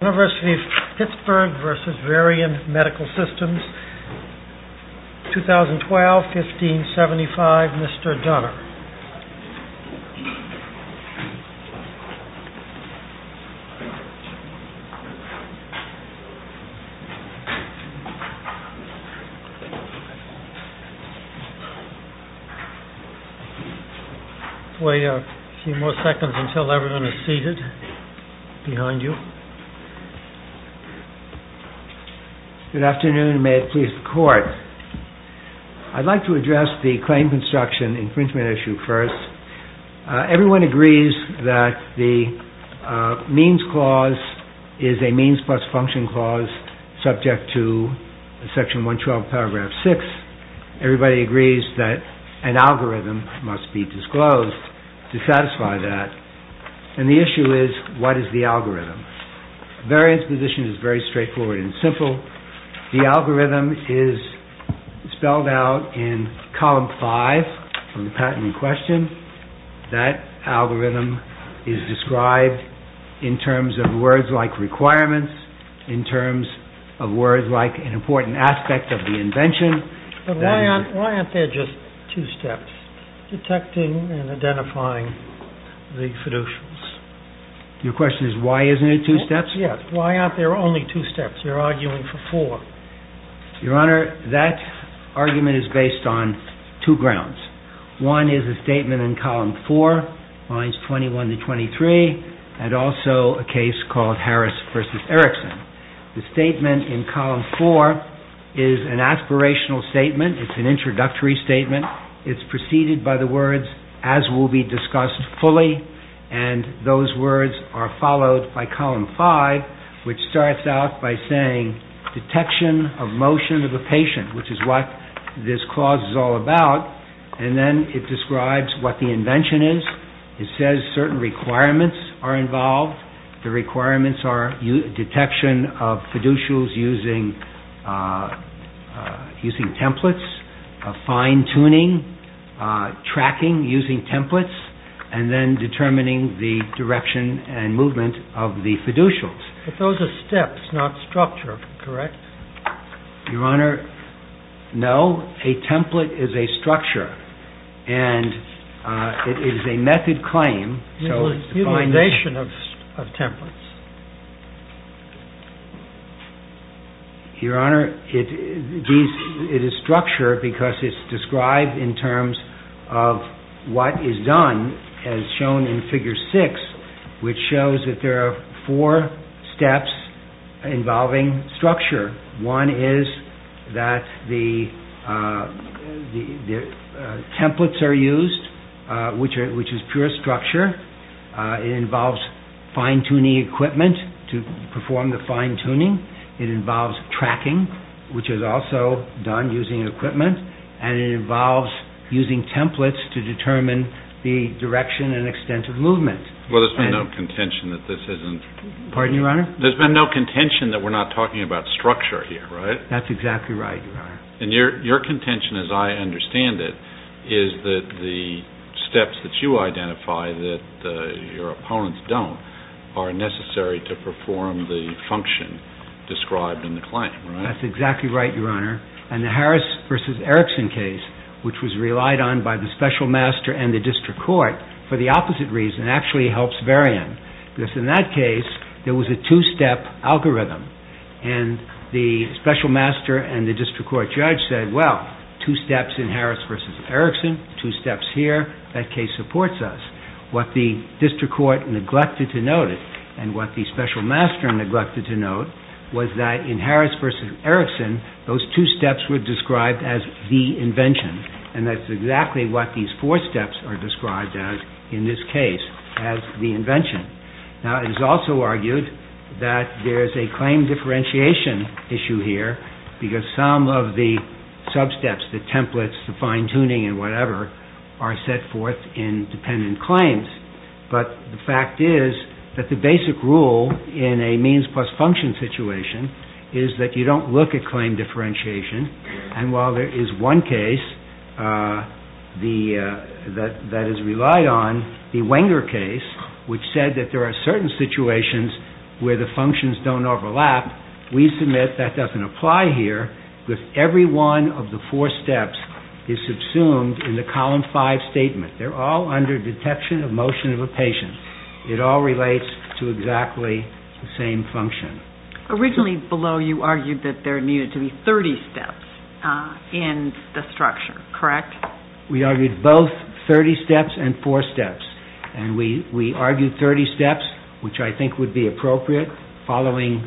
UNIVERSITY OF PITTSBURG v. VARIAN MEDICAL SYSTEMS 2012-15-75 MR. DUNNER Wait a few more seconds until everyone is seated behind you. Good afternoon and may it please the court. I'd like to address the claim construction infringement issue first. Everyone agrees that the means clause is a means plus function clause subject to section 112 paragraph 6. Everybody agrees that an algorithm must be disclosed to satisfy that. And the issue is what is the algorithm? The variance position is very straightforward and simple. The algorithm is spelled out in column 5 of the patent in question. That algorithm is described in terms of words like requirements, in terms of words like an important aspect of the invention. But why aren't there just two steps, detecting and identifying the solutions? Your question is why isn't it two steps? Yes, why aren't there only two steps? You're arguing for four. Your Honor, that argument is based on two grounds. One is a statement in column 4, lines 21 to 23, and also a case called Harris v. Erickson. The statement in column 4 is an aspirational statement. It's an introductory statement. It's preceded by the words, as will be discussed fully, and those words are followed by column 5, which starts out by saying detection of motion of a patient, which is what this clause is all about. And then it describes what the invention is. It says certain requirements are involved. The requirements are detection of fiducials using templates, fine-tuning, tracking using templates, and then determining the direction and movement of the fiducials. But those are steps, not structure, correct? Your Honor, no. A template is a structure, and it is a method claim. Utilization of templates. Your Honor, it is structure because it's described in terms of what is done as shown in figure 6, which shows that there are four steps involving structure. One is that the templates are used, which is pure structure. It involves fine-tuning equipment to perform the fine-tuning. It involves tracking, which is also done using equipment, and it involves using templates to determine the direction and extent of movement. Well, there's been no contention that this isn't... Pardon me, Your Honor? There's been no contention that we're not talking about structure here, right? That's exactly right, Your Honor. And your contention, as I understand it, is that the steps that you identify that your opponents don't are necessary to perform the function described in the claim, right? That's exactly right, Your Honor. And the Harris v. Erickson case, which was relied on by the special master and the district court for the opposite reason, actually helps very end. Because in that case, there was a two-step algorithm, and the special master and the district court judge said, well, two steps in Harris v. Erickson, two steps here, that case supports us. What the district court neglected to note, and what the special master neglected to note, was that in Harris v. Erickson, those two steps were described as the invention, and that's exactly what these four steps are described as in this case, as the invention. Now, it is also argued that there's a claim differentiation issue here, because some of the sub-steps, the templates, the fine-tuning and whatever, are set forth in dependent claims. But the fact is that the basic rule in a means plus function situation is that you don't look at claim differentiation, and while there is one case that is relied on, the Wenger case, which said that there are certain situations where the functions don't overlap, we submit that doesn't apply here, because every one of the four steps is subsumed in the column five statement. They're all under detection of motion of a patient. It all relates to exactly the same function. Originally, below, you argued that there needed to be 30 steps in the structure, correct? We argued both 30 steps and four steps, and we argued 30 steps, which I think would be appropriate, following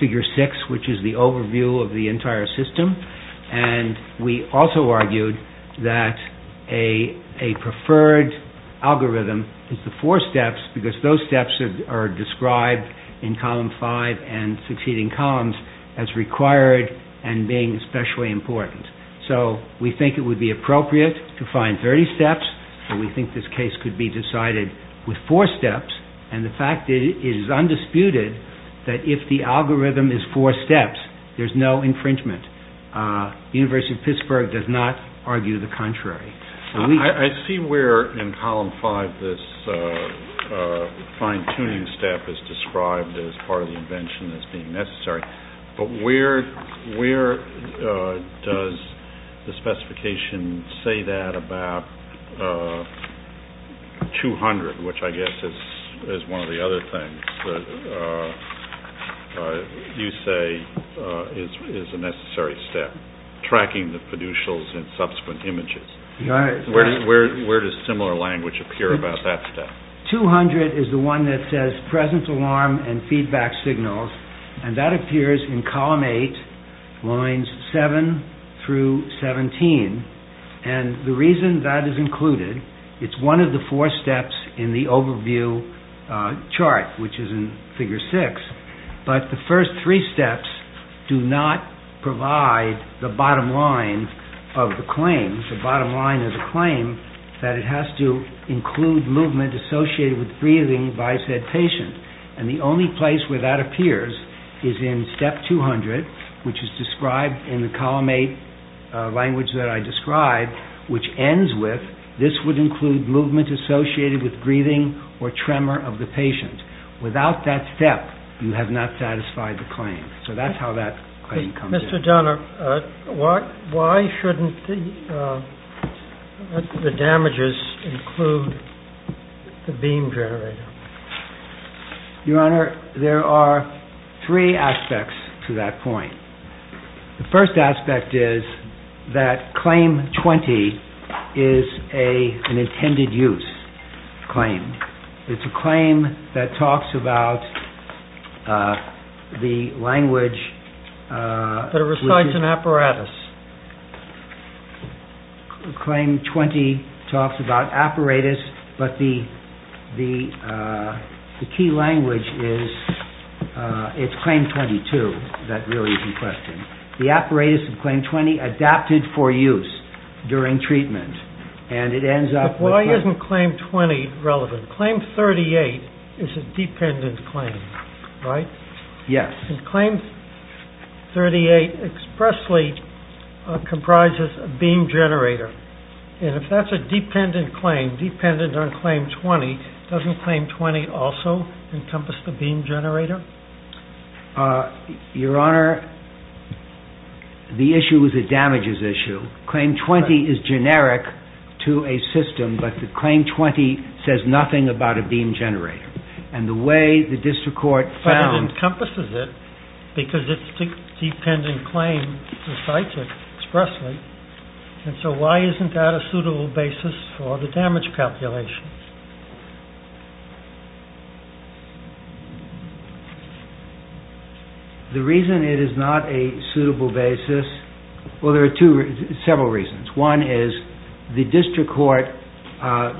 figure six, which is the overview of the entire system, and we also argued that a preferred algorithm is the four steps, because those steps are described in column five and succeeding columns as required and being especially important. So we think it would be appropriate to find 30 steps, and we think this case could be decided with four steps, and the fact is it is undisputed that if the algorithm is four steps, there's no infringement. The University of Pittsburgh does not argue the contrary. I see where in column five this fine-tuning step is described as part of the invention as being necessary, but where does the specification say that about 200, which I guess is one of the other things that you say is a necessary step, tracking the fiducials and subsequent images. Where does similar language appear about that step? 200 is the one that says present alarm and feedback signals, and that appears in column eight, lines seven through 17, and the reason that is included, it's one of the four steps in the overview chart, which is in figure six, but the first three steps do not provide the bottom line of the claim, the bottom line of the claim that it has to include movement associated with breathing by said patient, and the only place where that appears is in step 200, which is described in the column eight language that I described, which ends with this would include movement associated with breathing or tremor of the patient. Without that step, you have not satisfied the claim. So that's how that claim comes in. Mr. Dunner, why shouldn't the damages include the beam generator? Your Honor, there are three aspects to that point. The first aspect is that claim 20 is an intended use claim. It's a claim that talks about the language. That it recites an apparatus. Claim 20 talks about apparatus, but the key language is it's claim 22 that really is in question. The apparatus of claim 20 adapted for use during treatment, but why isn't claim 20 relevant? Claim 38 is a dependent claim, right? Yes. Claim 38 expressly comprises a beam generator, and if that's a dependent claim, dependent on claim 20, doesn't claim 20 also encompass the beam generator? Your Honor, the issue is a damages issue. Claim 20 is generic to a system, but the claim 20 says nothing about a beam generator, and the way the district court found But it encompasses it because it's a dependent claim recites it expressly, and so why isn't that a suitable basis for the damage calculations? The reason it is not a suitable basis, well, there are several reasons. One is the district court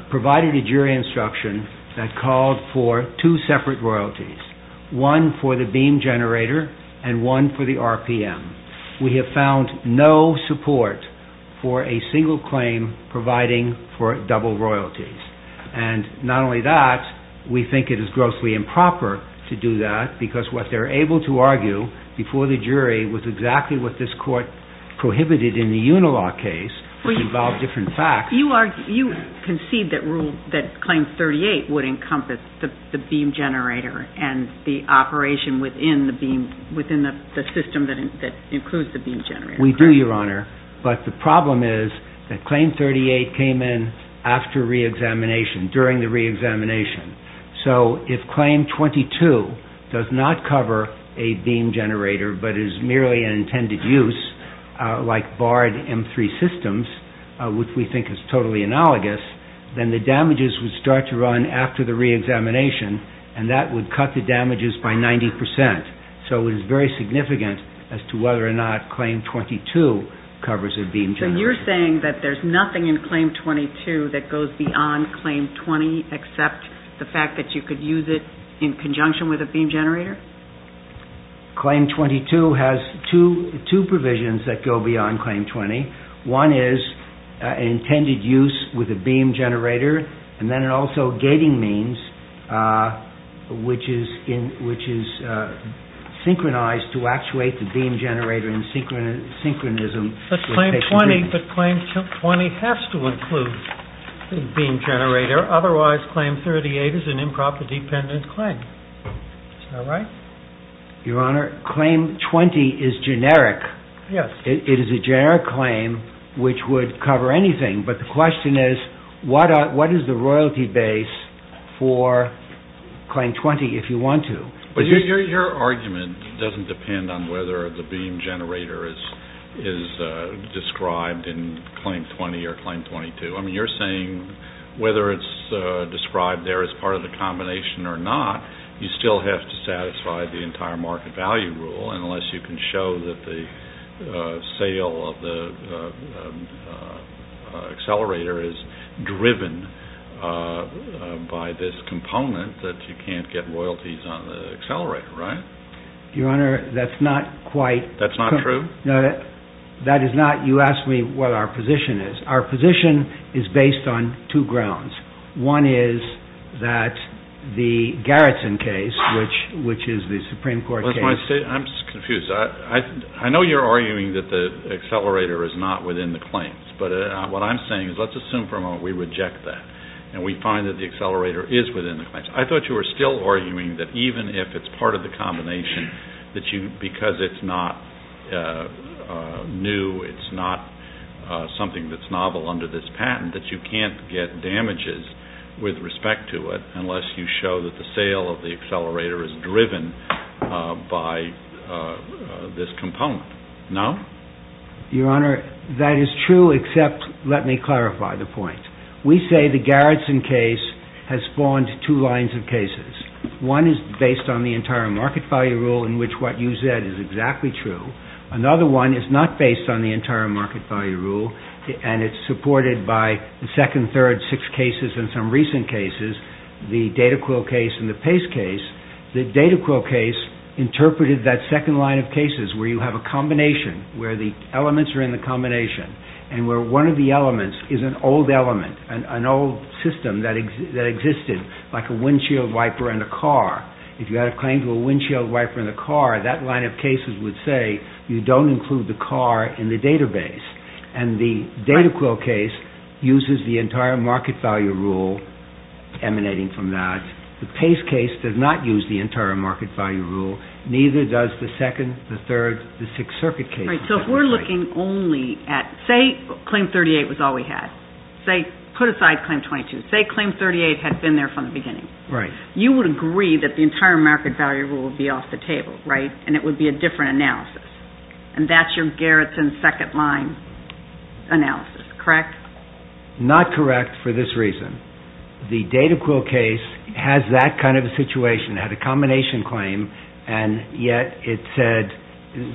provided a jury instruction that called for two separate royalties, one for the beam generator and one for the RPM. We have found no support for a single claim providing for double royalties, and not only that, we think it is grossly improper to do that because what they're able to argue before the jury was exactly what this court prohibited in the Unilaw case, which involved different facts. You concede that claim 38 would encompass the beam generator and the operation within the system that includes the beam generator. We do, Your Honor, but the problem is that claim 38 came in after reexamination, during the reexamination, so if claim 22 does not cover a beam generator but is merely an intended use like barred M3 systems, which we think is totally analogous, then the damages would start to run after the reexamination, and that would cut the damages by 90%, so it is very significant as to whether or not claim 22 covers a beam generator. So you're saying that there's nothing in claim 22 that goes beyond claim 20 except the fact that you could use it in conjunction with a beam generator? Claim 22 has two provisions that go beyond claim 20. One is intended use with a beam generator, and then also gating means, which is synchronized to actuate the beam generator in synchronism. But claim 20 has to include a beam generator, otherwise claim 38 is an improper dependent claim. Is that right? Your Honor, claim 20 is generic. Yes. It is a generic claim which would cover anything, but the question is what is the royalty base for claim 20 if you want to? Your argument doesn't depend on whether the beam generator is described in claim 20 or claim 22. I mean, you're saying whether it's described there as part of the combination or not, you still have to satisfy the entire market value rule unless you can show that the sale of the accelerator is driven by this component that you can't get royalties on the accelerator, right? Your Honor, that's not quite. That's not true? No, that is not. You asked me what our position is. Our position is based on two grounds. One is that the Garrison case, which is the Supreme Court case. I'm just confused. I know you're arguing that the accelerator is not within the claims, but what I'm saying is let's assume for a moment we reject that and we find that the accelerator is within the claims. I thought you were still arguing that even if it's part of the combination, because it's not new, it's not something that's novel under this patent, that you can't get damages with respect to it unless you show that the sale of the accelerator is driven by this component. No? Your Honor, that is true except let me clarify the point. We say the Garrison case has spawned two lines of cases. One is based on the entire market value rule in which what you said is exactly true. Another one is not based on the entire market value rule, and it's supported by the second, third, six cases and some recent cases, the DataQuill case and the Pace case. The DataQuill case interpreted that second line of cases where you have a combination where the elements are in the combination and where one of the elements is an old element, an old system that existed, like a windshield wiper in a car. If you had a claim to a windshield wiper in a car, that line of cases would say you don't include the car in the database. And the DataQuill case uses the entire market value rule emanating from that. The Pace case does not use the entire market value rule. Neither does the second, the third, the six circuit cases. All right, so if we're looking only at, say, claim 38 was all we had. Put aside claim 22. Say claim 38 had been there from the beginning. Right. You would agree that the entire market value rule would be off the table, right? And it would be a different analysis. And that's your Garrison second line analysis, correct? Not correct for this reason. The DataQuill case has that kind of a situation, had a combination claim, and yet it said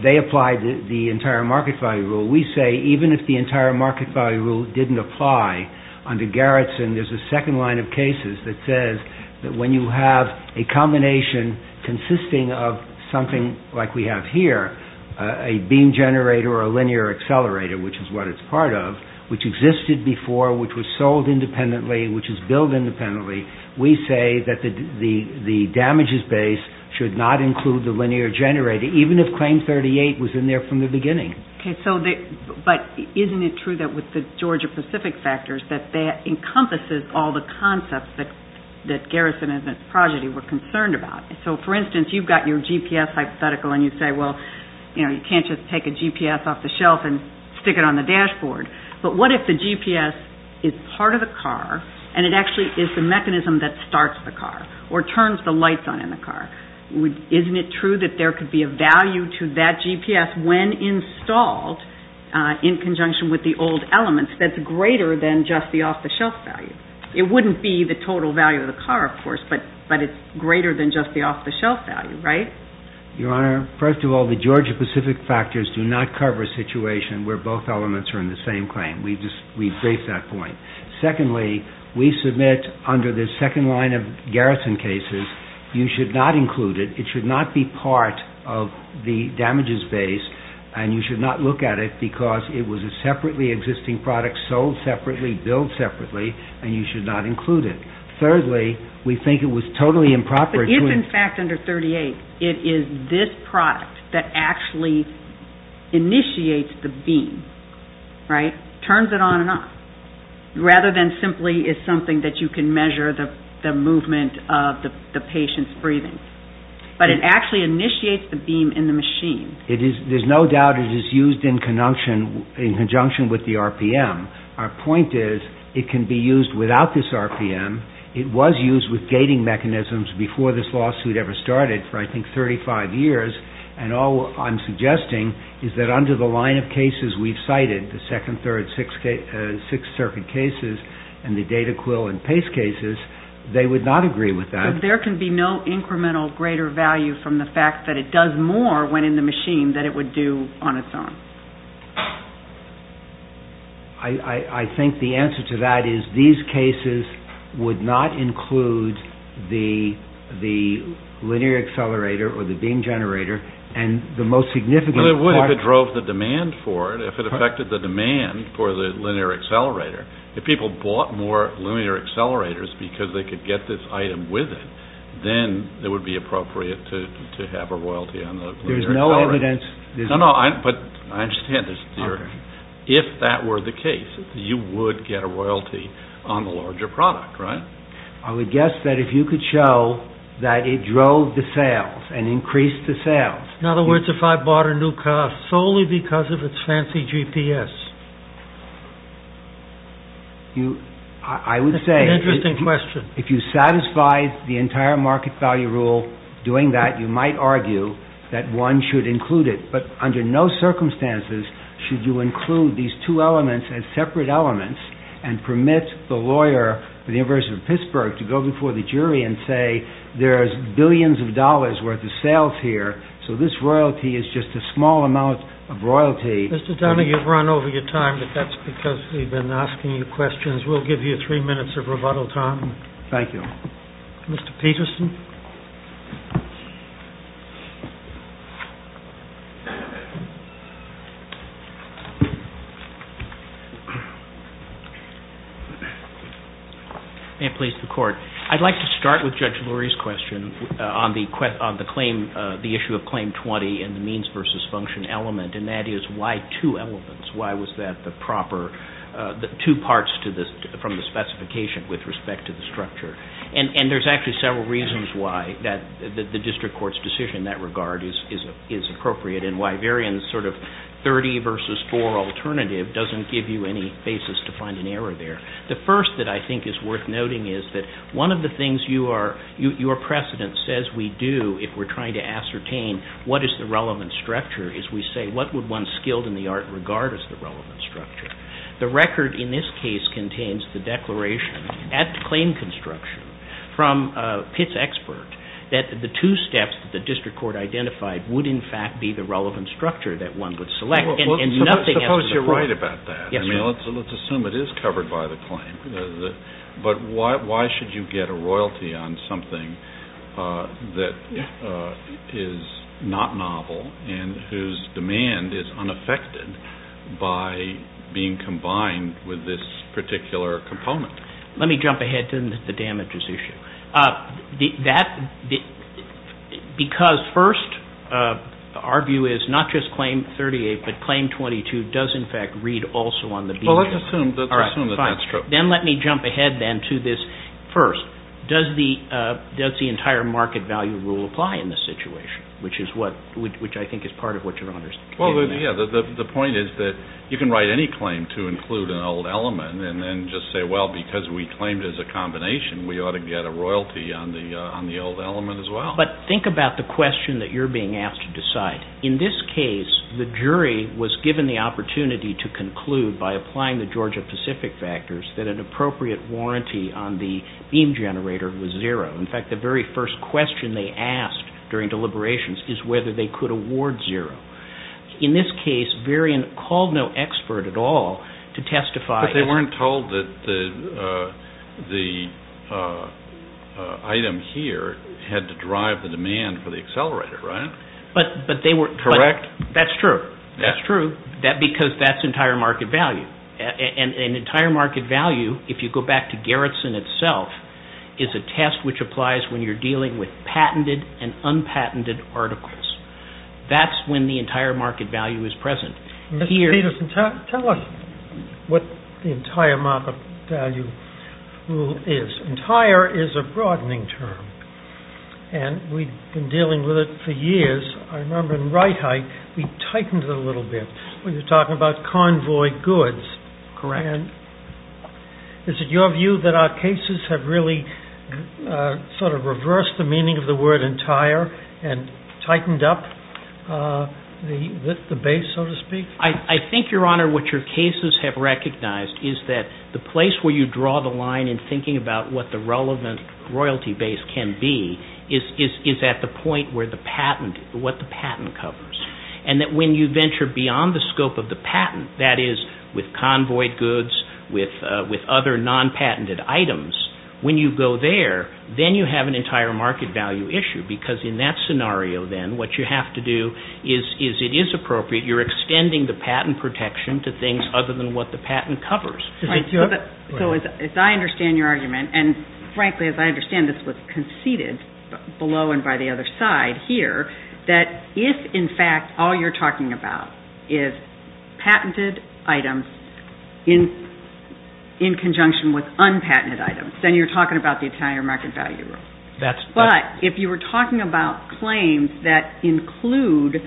they applied the entire market value rule. We say even if the entire market value rule didn't apply under Garrison, there's a second line of cases that says that when you have a combination consisting of something like we have here, a beam generator or a linear accelerator, which is what it's part of, which existed before, which was sold independently, which is billed independently, we say that the damages base should not include the linear generator, even if claim 38 was in there from the beginning. Okay. But isn't it true that with the Georgia Pacific factors that that encompasses all the concepts that Garrison and Progeny were concerned about? So, for instance, you've got your GPS hypothetical and you say, well, you can't just take a GPS off the shelf and stick it on the dashboard. But what if the GPS is part of the car and it actually is the mechanism that starts the car or turns the lights on in the car? Isn't it true that there could be a value to that GPS when installed in conjunction with the old elements that's greater than just the off-the-shelf value? It wouldn't be the total value of the car, of course, but it's greater than just the off-the-shelf value, right? Your Honor, first of all, the Georgia Pacific factors do not cover a situation where both elements are in the same claim. We've raised that point. Secondly, we submit under the second line of Garrison cases, you should not include it. It should not be part of the damages base and you should not look at it because it was a separately existing product sold separately, billed separately, and you should not include it. Thirdly, we think it was totally improper to- But if, in fact, under 38, it is this product that actually initiates the beam, right, turns it on and off rather than simply is something that you can measure the movement of the patient's breathing. But it actually initiates the beam in the machine. There's no doubt it is used in conjunction with the RPM. Our point is it can be used without this RPM. It was used with gating mechanisms before this lawsuit ever started for, I think, 35 years, and all I'm suggesting is that under the line of cases we've cited, the second, third, sixth circuit cases and the data quill and pace cases, they would not agree with that. But there can be no incremental greater value from the fact that it does more when in the machine than it would do on its own. I think the answer to that is these cases would not include the linear accelerator or the beam generator and the most significant part- Well, it would if it drove the demand for it, if it affected the demand for the linear accelerator. If people bought more linear accelerators because they could get this item with it, then it would be appropriate to have a royalty on the linear accelerator. There's no evidence- No, no, but I understand this theory. If that were the case, you would get a royalty on the larger product, right? I would guess that if you could show that it drove the sales and increased the sales- In other words, if I bought a new car solely because of its fancy GPS. I would say- That's an interesting question. If you satisfied the entire market value rule doing that, you might argue that one should include it. But under no circumstances should you include these two elements as separate elements and permit the lawyer for the University of Pittsburgh to go before the jury and say, there's billions of dollars worth of sales here, so this royalty is just a small amount of royalty. Mr. Dunning, you've run over your time, but that's because we've been asking you questions. We'll give you three minutes of rebuttal time. Thank you. Mr. Peterson? May it please the Court? I'd like to start with Judge Lurie's question on the claim- the issue of Claim 20 and the means versus function element, and that is why two elements? Why was that the proper- two parts from the specification with respect to the structure? And there's actually several reasons why the district court's decision in that regard is appropriate and why Varian's sort of 30 versus 4 alternative doesn't give you any basis to find an error there. The first that I think is worth noting is that one of the things your precedent says we do if we're trying to ascertain what is the relevant structure is we say, what would one skilled in the art regard as the relevant structure? The record in this case contains the declaration at the claim construction from Pitts' expert that the two steps that the district court identified would in fact be the relevant structure that one would select. Suppose you're right about that. Let's assume it is covered by the claim, but why should you get a royalty on something that is not novel and whose demand is unaffected by being combined with this particular component? Let me jump ahead to the damages issue. Because first our view is not just claim 38, but claim 22 does in fact read also on the- Well, let's assume that that's true. Then let me jump ahead then to this first. Does the entire market value rule apply in this situation, which I think is part of what you're understanding now. Well, yeah. The point is that you can write any claim to include an old element and then just say, well, because we claimed as a combination, we ought to get a royalty on the old element as well. But think about the question that you're being asked to decide. In this case, the jury was given the opportunity to conclude by applying the Georgia-Pacific factors that an appropriate warranty on the beam generator was zero. In fact, the very first question they asked during deliberations is whether they could award zero. In this case, Varian called no expert at all to testify. But they weren't told that the item here had to drive the demand for the accelerator, right? But they were- Correct? That's true. That's true. Because that's entire market value. An entire market value, if you go back to Garrison itself, is a test which applies when you're dealing with patented and unpatented articles. That's when the entire market value is present. Mr. Peterson, tell us what the entire market value rule is. Entire is a broadening term, and we've been dealing with it for years. I remember in Reithe, we tightened it a little bit. We were talking about convoy goods. Correct. And is it your view that our cases have really sort of reversed the meaning of the word entire and tightened up the base, so to speak? I think, Your Honor, what your cases have recognized is that the place where you draw the line in thinking about what the relevant royalty base can be is at the point where the patent, what the patent covers, and that when you venture beyond the scope of the patent, that is with convoy goods, with other non-patented items, when you go there, then you have an entire market value issue, because in that scenario, then, what you have to do is, it is appropriate, you're extending the patent protection to things other than what the patent covers. So as I understand your argument, and frankly, as I understand this was conceded below and by the other side here, that if, in fact, all you're talking about is patented items in conjunction with unpatented items, then you're talking about the entire market value rule. But if you were talking about claims that include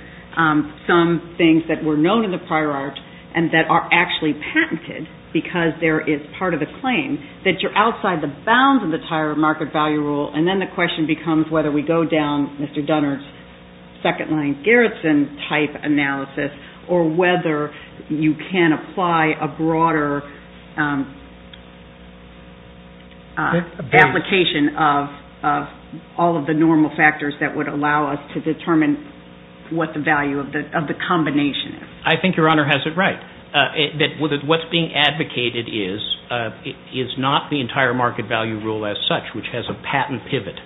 some things that were known in the prior art and that are actually patented because there is part of the claim, that you're outside the bounds of the entire market value rule, and then the question becomes whether we go down Mr. Dunnard's second-line Garrison-type analysis or whether you can apply a broader application of all of the normal factors that would allow us to determine what the value of the combination is. I think your Honor has it right. What's being advocated is not the entire market value rule as such, which has a patent pivot.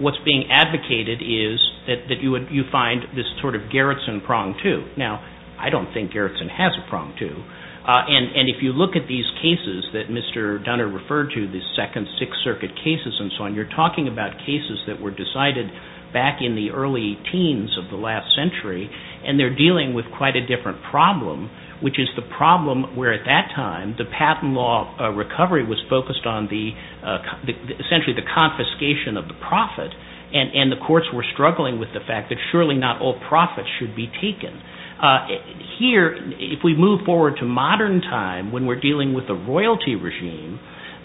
What's being advocated is that you find this sort of Garrison prong, too. Now, I don't think Garrison has a prong, too. And if you look at these cases that Mr. Dunnard referred to, the second Sixth Circuit cases and so on, you're talking about cases that were decided back in the early teens of the last century, and they're dealing with quite a different problem, which is the problem where at that time the patent law recovery was focused on essentially the confiscation of the profit, and the courts were struggling with the fact that surely not all profits should be taken. Here, if we move forward to modern time when we're dealing with a royalty regime,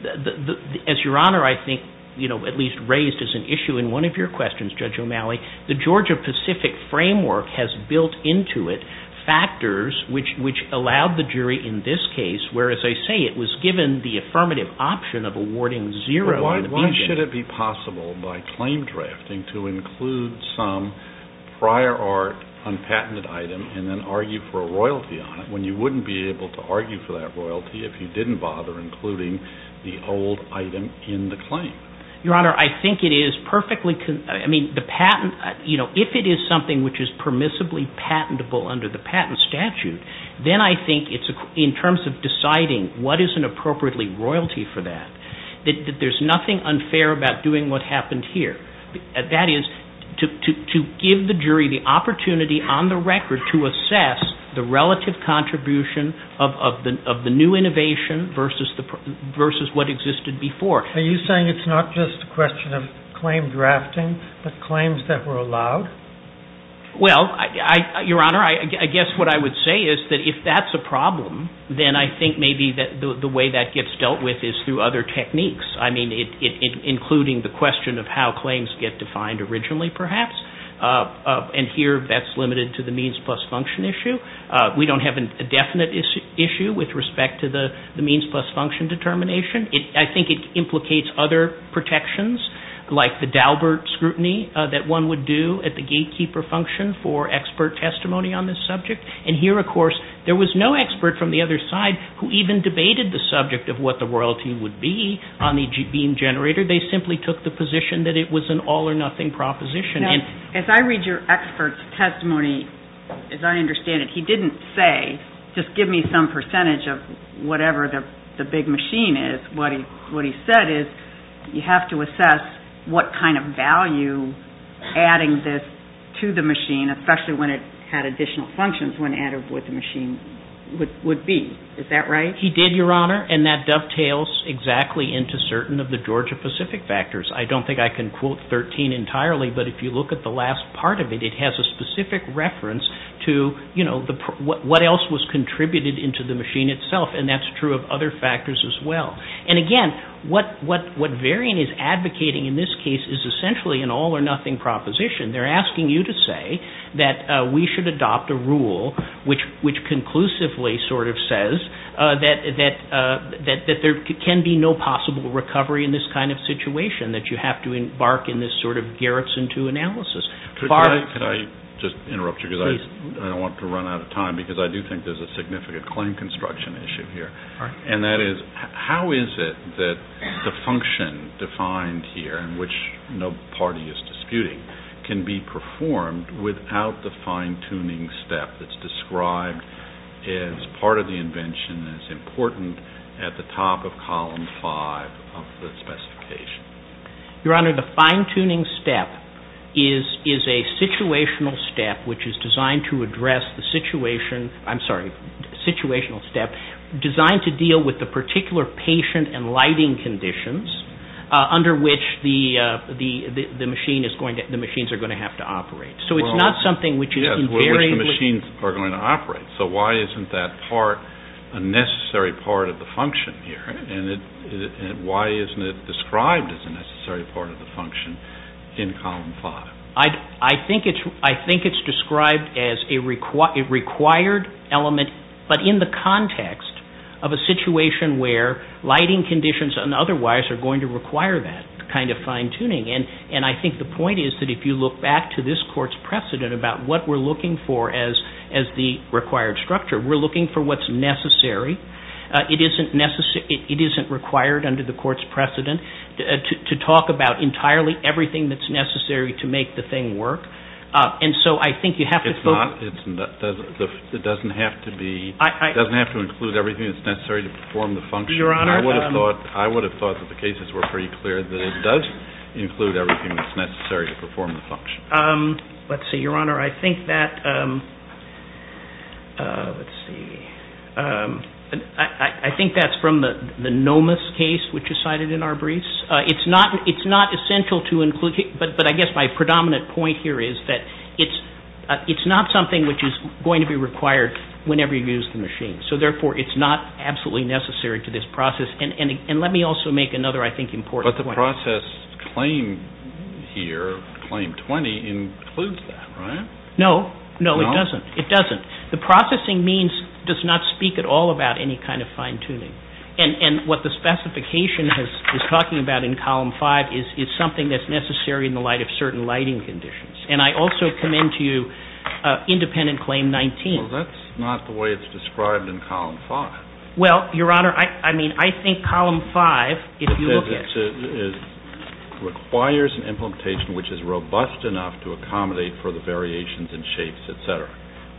as your Honor I think at least raised as an issue in one of your questions, Judge O'Malley, the Georgia-Pacific framework has built into it factors which allowed the jury in this case, whereas I say it was given the affirmative option of awarding zero in the beginning. Why should it be possible by claim drafting to include some prior art, unpatented item, and then argue for a royalty on it when you wouldn't be able to argue for that royalty if you didn't bother including the old item in the claim? Your Honor, I think it is perfectly – I mean, the patent – if it is something which is permissibly patentable under the patent statute, then I think in terms of deciding what is an appropriately royalty for that, that there's nothing unfair about doing what happened here. That is, to give the jury the opportunity on the record to assess the relative contribution of the new innovation versus what existed before. Are you saying it's not just a question of claim drafting, but claims that were allowed? Well, Your Honor, I guess what I would say is that if that's a problem, then I think maybe the way that gets dealt with is through other techniques, I mean, including the question of how claims get defined originally perhaps, and here that's limited to the means plus function issue. We don't have a definite issue with respect to the means plus function determination. I think it implicates other protections like the Daubert scrutiny that one would do at the gatekeeper function for expert testimony on this subject, and here, of course, there was no expert from the other side who even debated the subject of what the royalty would be on the beam generator. They simply took the position that it was an all-or-nothing proposition. Now, as I read your expert's testimony, as I understand it, he didn't say, just give me some percentage of whatever the big machine is. What he said is you have to assess what kind of value adding this to the machine, especially when it had additional functions, when added with the machine would be. Is that right? He did, Your Honor, and that dovetails exactly into certain of the Georgia-Pacific factors. I don't think I can quote 13 entirely, but if you look at the last part of it, it has a specific reference to what else was contributed into the machine itself, and that's true of other factors as well. And again, what Varian is advocating in this case is essentially an all-or-nothing proposition. They're asking you to say that we should adopt a rule which conclusively sort of says that there can be no possible recovery in this kind of situation, that you have to embark in this sort of Garrison II analysis. Could I just interrupt you because I don't want to run out of time because I do think there's a significant claim construction issue here, and that is how is it that the function defined here, which no party is disputing, can be performed without the fine-tuning step that's described as part of the invention and is important at the top of column five of the specification? Your Honor, the fine-tuning step is a situational step, which is designed to address the situation—I'm sorry, situational step— designed to deal with the particular patient and lighting conditions under which the machines are going to have to operate. So it's not something which is invariably— Yes, which the machines are going to operate. So why isn't that part a necessary part of the function here? And why isn't it described as a necessary part of the function in column five? I think it's described as a required element, but in the context of a situation where lighting conditions and otherwise are going to require that kind of fine-tuning. And I think the point is that if you look back to this Court's precedent about what we're looking for as the required structure, we're looking for what's necessary. It isn't required under the Court's precedent to talk about entirely everything that's necessary to make the thing work. And so I think you have to focus— It doesn't have to include everything that's necessary to perform the function. Your Honor— I would have thought that the cases were pretty clear that it does include everything that's necessary to perform the function. Let's see, Your Honor, I think that—let's see. I think that's from the Nomis case, which is cited in our briefs. It's not essential to include—but I guess my predominant point here is that it's not something which is going to be required whenever you use the machine. So therefore, it's not absolutely necessary to this process. And let me also make another, I think, important point. But the process claim here, claim 20, includes that, right? No. No, it doesn't. It doesn't. The processing means does not speak at all about any kind of fine-tuning. And what the specification is talking about in Column 5 is something that's necessary in the light of certain lighting conditions. And I also commend to you independent claim 19. Well, that's not the way it's described in Column 5. Well, Your Honor, I mean, I think Column 5, if you look at— It requires an implementation which is robust enough to accommodate for the variations in shapes, et cetera.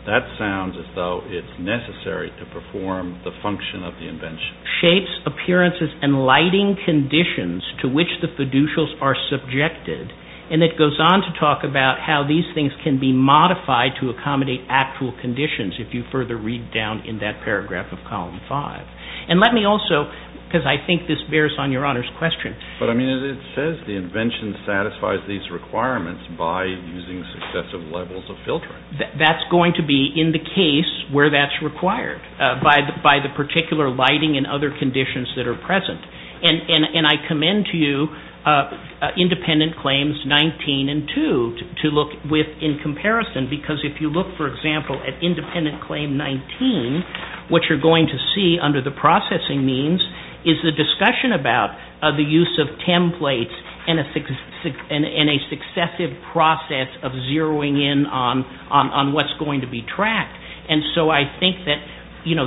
That sounds as though it's necessary to perform the function of the invention. Shapes, appearances, and lighting conditions to which the fiducials are subjected. And it goes on to talk about how these things can be modified to accommodate actual conditions, if you further read down in that paragraph of Column 5. And let me also—because I think this bears on Your Honor's question. But, I mean, it says the invention satisfies these requirements by using successive levels of filtering. That's going to be in the case where that's required by the particular lighting and other conditions that are present. And I commend to you independent claims 19 and 2 to look with in comparison because if you look, for example, at independent claim 19, what you're going to see under the processing means is the discussion about the use of templates and a successive process of zeroing in on what's going to be tracked. And so I think that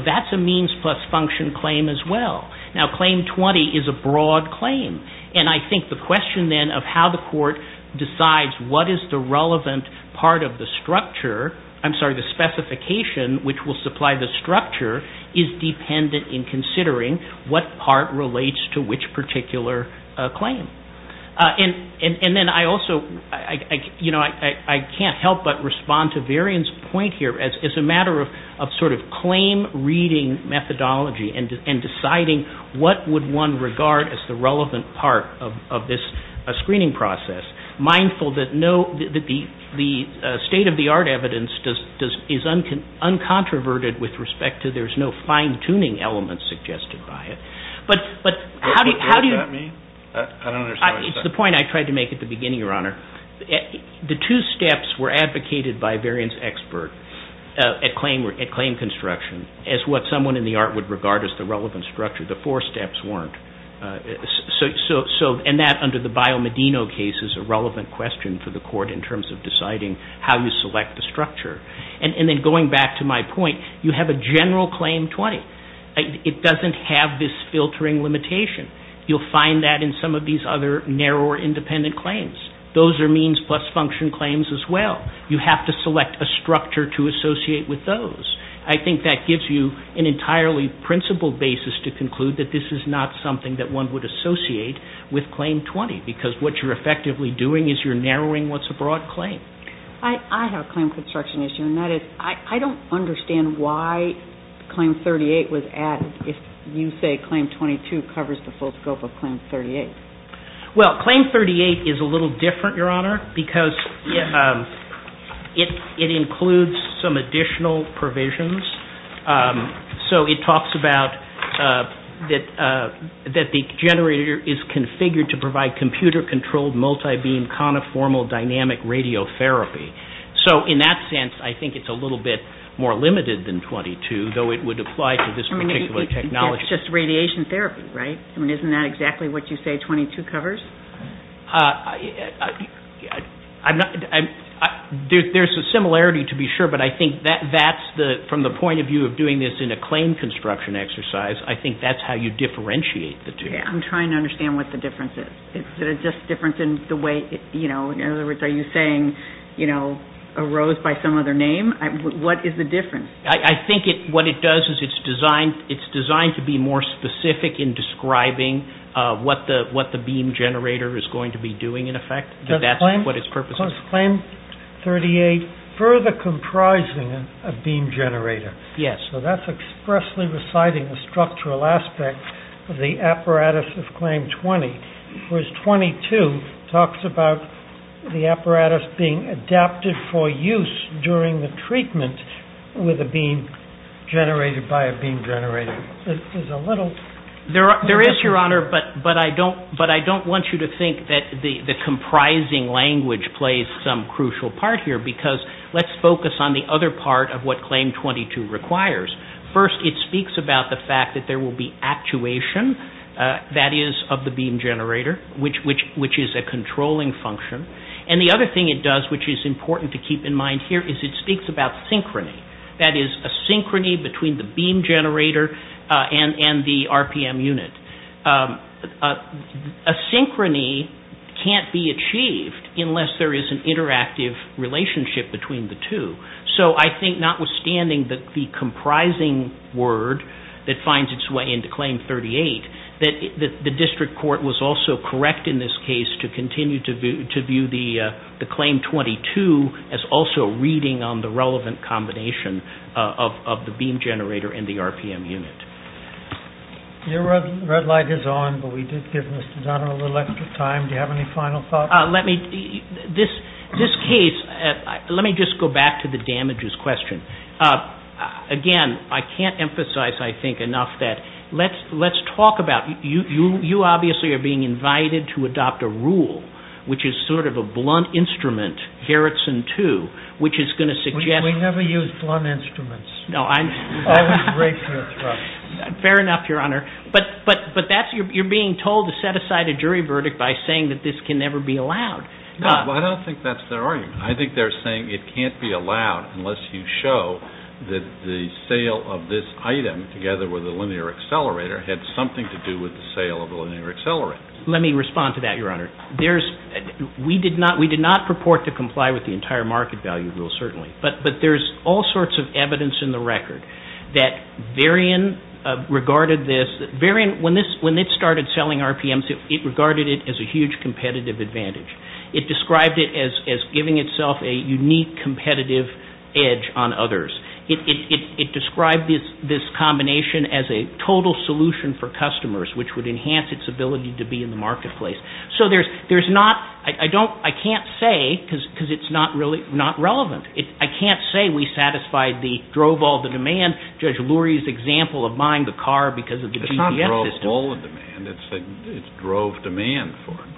that's a means plus function claim as well. Now, claim 20 is a broad claim. And I think the question then of how the court decides what is the relevant part of the structure— I'm sorry, the specification which will supply the structure is dependent in considering what part relates to which particular claim. And then I also—I can't help but respond to Varian's point here as a matter of sort of claim reading methodology and deciding what would one regard as the relevant part of this screening process, mindful that the state-of-the-art evidence is uncontroverted with respect to— there's no fine-tuning element suggested by it. But how do you— What does that mean? I don't understand what you're saying. It's the point I tried to make at the beginning, Your Honor. The two steps were advocated by Varian's expert at claim construction as what someone in the art would regard as the relevant structure. The four steps weren't. in terms of deciding how you select the structure. And then going back to my point, you have a general claim 20. It doesn't have this filtering limitation. You'll find that in some of these other narrower independent claims. Those are means plus function claims as well. You have to select a structure to associate with those. I think that gives you an entirely principled basis to conclude that this is not something that one would associate with claim 20 because what you're effectively doing is you're narrowing what's a broad claim. I have a claim construction issue, and that is, I don't understand why claim 38 was added if you say claim 22 covers the full scope of claim 38. Well, claim 38 is a little different, Your Honor, because it includes some additional provisions. So it talks about that the generator is configured to provide computer-controlled multi-beam conformal dynamic radiotherapy. So in that sense, I think it's a little bit more limited than 22, though it would apply to this particular technology. It's just radiation therapy, right? I mean, isn't that exactly what you say 22 covers? There's a similarity to be sure, but I think from the point of view of doing this in a claim construction exercise, I think that's how you differentiate the two. I'm trying to understand what the difference is. Is it just a difference in the way, in other words, are you saying a rose by some other name? What is the difference? I think what it does is it's designed to be more specific in describing what the beam generator is going to be doing, in effect. So is claim 38 further comprising a beam generator? Yes. So that's expressly reciting the structural aspect of the apparatus of claim 20, whereas 22 talks about the apparatus being adapted for use during the treatment with a beam generated by a beam generator. It's a little... There is, Your Honor, but I don't want you to think that the comprising language plays some crucial part here because let's focus on the other part of what claim 22 requires. First, it speaks about the fact that there will be actuation, that is, of the beam generator, which is a controlling function. And the other thing it does, which is important to keep in mind here, is it speaks about synchrony, that is, a synchrony between the beam generator and the RPM unit. A synchrony can't be achieved unless there is an interactive relationship between the two. So I think, notwithstanding the comprising word that finds its way into claim 38, that the district court was also correct in this case to continue to view the claim 22 as also reading on the relevant combination of the beam generator and the RPM unit. Your red light is on, but we did give Mr. Donnell a little extra time. Do you have any final thoughts? Let me... This case... Let me just go back to the damages question. Again, I can't emphasize, I think, enough that... Let's talk about... You obviously are being invited to adopt a rule, which is sort of a blunt instrument, Garrison 2, which is going to suggest... We never use blunt instruments. No, I'm... Fair enough, Your Honor. But that's... You're being told to set aside a jury verdict by saying that this can never be allowed. No, I don't think that's their argument. I think they're saying it can't be allowed unless you show that the sale of this item, together with the linear accelerator, had something to do with the sale of the linear accelerator. Let me respond to that, Your Honor. There's... We did not purport to comply with the entire market value rule, certainly. But there's all sorts of evidence in the record that Varian regarded this... Varian, when it started selling RPMs, it regarded it as a huge competitive advantage. It described it as giving itself a unique competitive edge on others. It described this combination as a total solution for customers, which would enhance its ability to be in the marketplace. So there's not... I can't say, because it's not really... Not relevant. I can't say we satisfied the drove-all-the-demand, Judge Lurie's example of buying the car because of the GCS system. It's not drove-all-the-demand. It's drove-demand for it.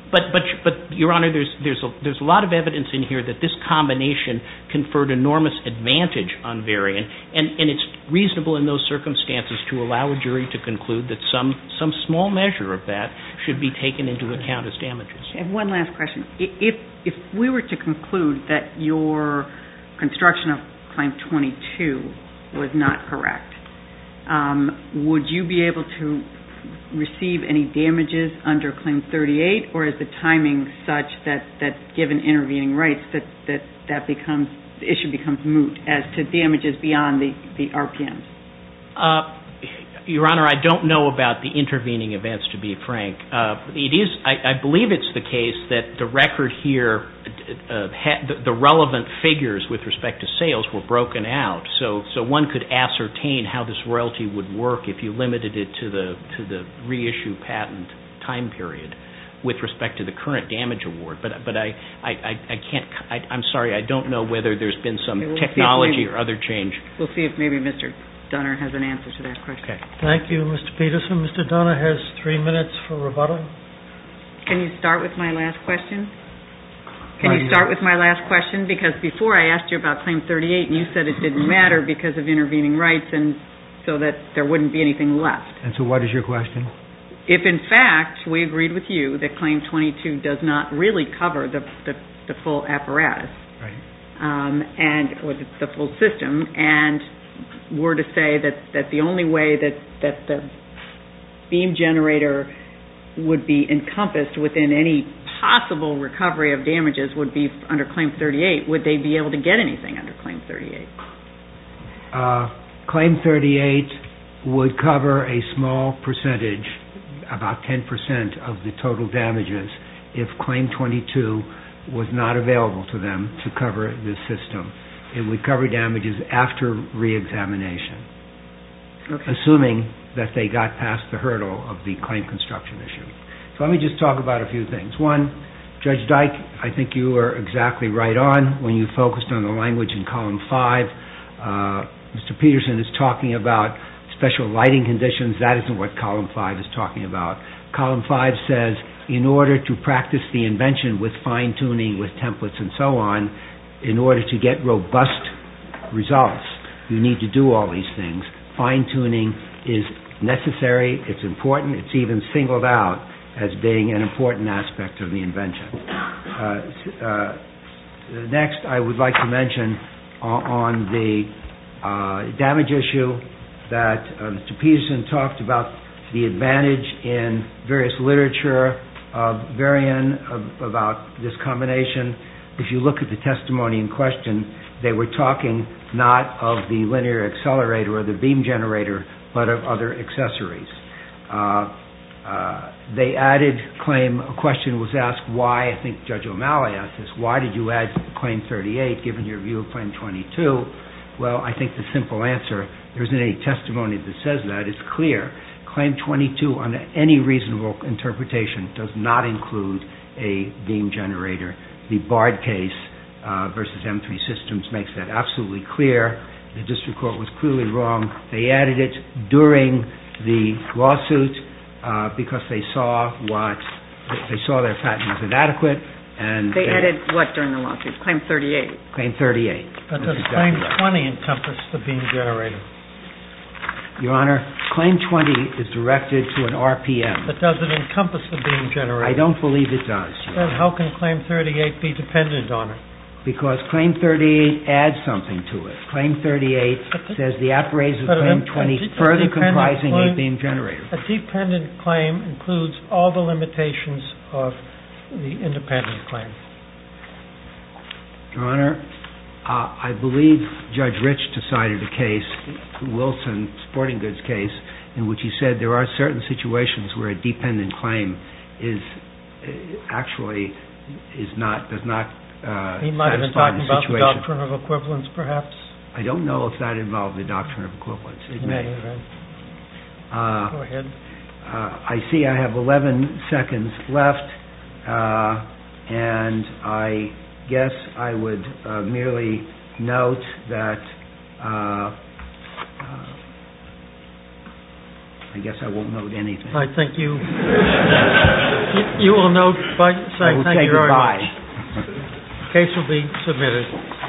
But, Your Honor, there's a lot of evidence in here that this combination conferred enormous advantage on Varian, and it's reasonable in those circumstances to allow a jury to conclude that some small measure of that should be taken into account as damages. And one last question. If we were to conclude that your construction of Claim 22 was not correct, would you be able to receive any damages under Claim 38, or is the timing such that, given intervening rights, that that becomes... The issue becomes moot as to damages beyond the RPMs? Your Honor, I don't know about the intervening events, to be frank. I believe it's the case that the record here, the relevant figures with respect to sales were broken out, so one could ascertain how this royalty would work if you limited it to the reissue patent time period with respect to the current damage award. But I can't... I'm sorry, I don't know whether there's been some technology or other change. We'll see if maybe Mr. Donner has an answer to that question. Thank you, Mr. Peterson. Mr. Donner has three minutes for rebuttal. Can you start with my last question? Can you start with my last question? Because before I asked you about Claim 38, you said it didn't matter because of intervening rights and so that there wouldn't be anything left. And so what is your question? If, in fact, we agreed with you that Claim 22 does not really cover the full apparatus, or the full system, and were to say that the only way that the beam generator would be encompassed within any possible recovery of damages would be under Claim 38, would they be able to get anything under Claim 38? Claim 38 would cover a small percentage, about 10% of the total damages, if Claim 22 was not available to them to cover the system. It would cover damages after reexamination, assuming that they got past the hurdle of the claim construction issue. So let me just talk about a few things. One, Judge Dyke, I think you were exactly right on when you focused on the language in Column 5. Mr. Peterson is talking about special lighting conditions. That isn't what Column 5 is talking about. Column 5 says, in order to practice the invention with fine-tuning, with templates and so on, in order to get robust results, you need to do all these things. Fine-tuning is necessary, it's important, it's even singled out as being an important aspect of the invention. Next, I would like to mention on the damage issue that Mr. Peterson talked about the advantage in various literature, Varian, about this combination. If you look at the testimony in question, they were talking not of the linear accelerator or the beam generator, but of other accessories. They added claim, a question was asked why, I think Judge O'Malley asked this, why did you add Claim 38, given your view of Claim 22? Well, I think the simple answer, there isn't any testimony that says that, it's clear. Claim 22, under any reasonable interpretation, does not include a beam generator. The Bard case versus M3 Systems makes that absolutely clear. The district court was clearly wrong. They added it during the lawsuit because they saw their patent was inadequate. They added what during the lawsuit, Claim 38? Claim 38. But does Claim 20 encompass the beam generator? Your Honor, Claim 20 is directed to an RPM. But does it encompass the beam generator? I don't believe it does. Then how can Claim 38 be dependent on it? Because Claim 38 adds something to it. Claim 38 says the appraise of Claim 20 is further comprising a beam generator. A dependent claim includes all the limitations of the independent claim. Your Honor, I believe Judge Rich decided the case, Wilson, Sporting Goods case, in which he said there are certain situations where a dependent claim actually does not satisfy the situation. He might have been talking about the Doctrine of Equivalence, perhaps? I don't know if that involved the Doctrine of Equivalence. It may. Go ahead. I see I have 11 seconds left. And I guess I would merely note that I guess I won't note anything. I think you will note by saying thank you very much. I will say goodbye. The case will be submitted.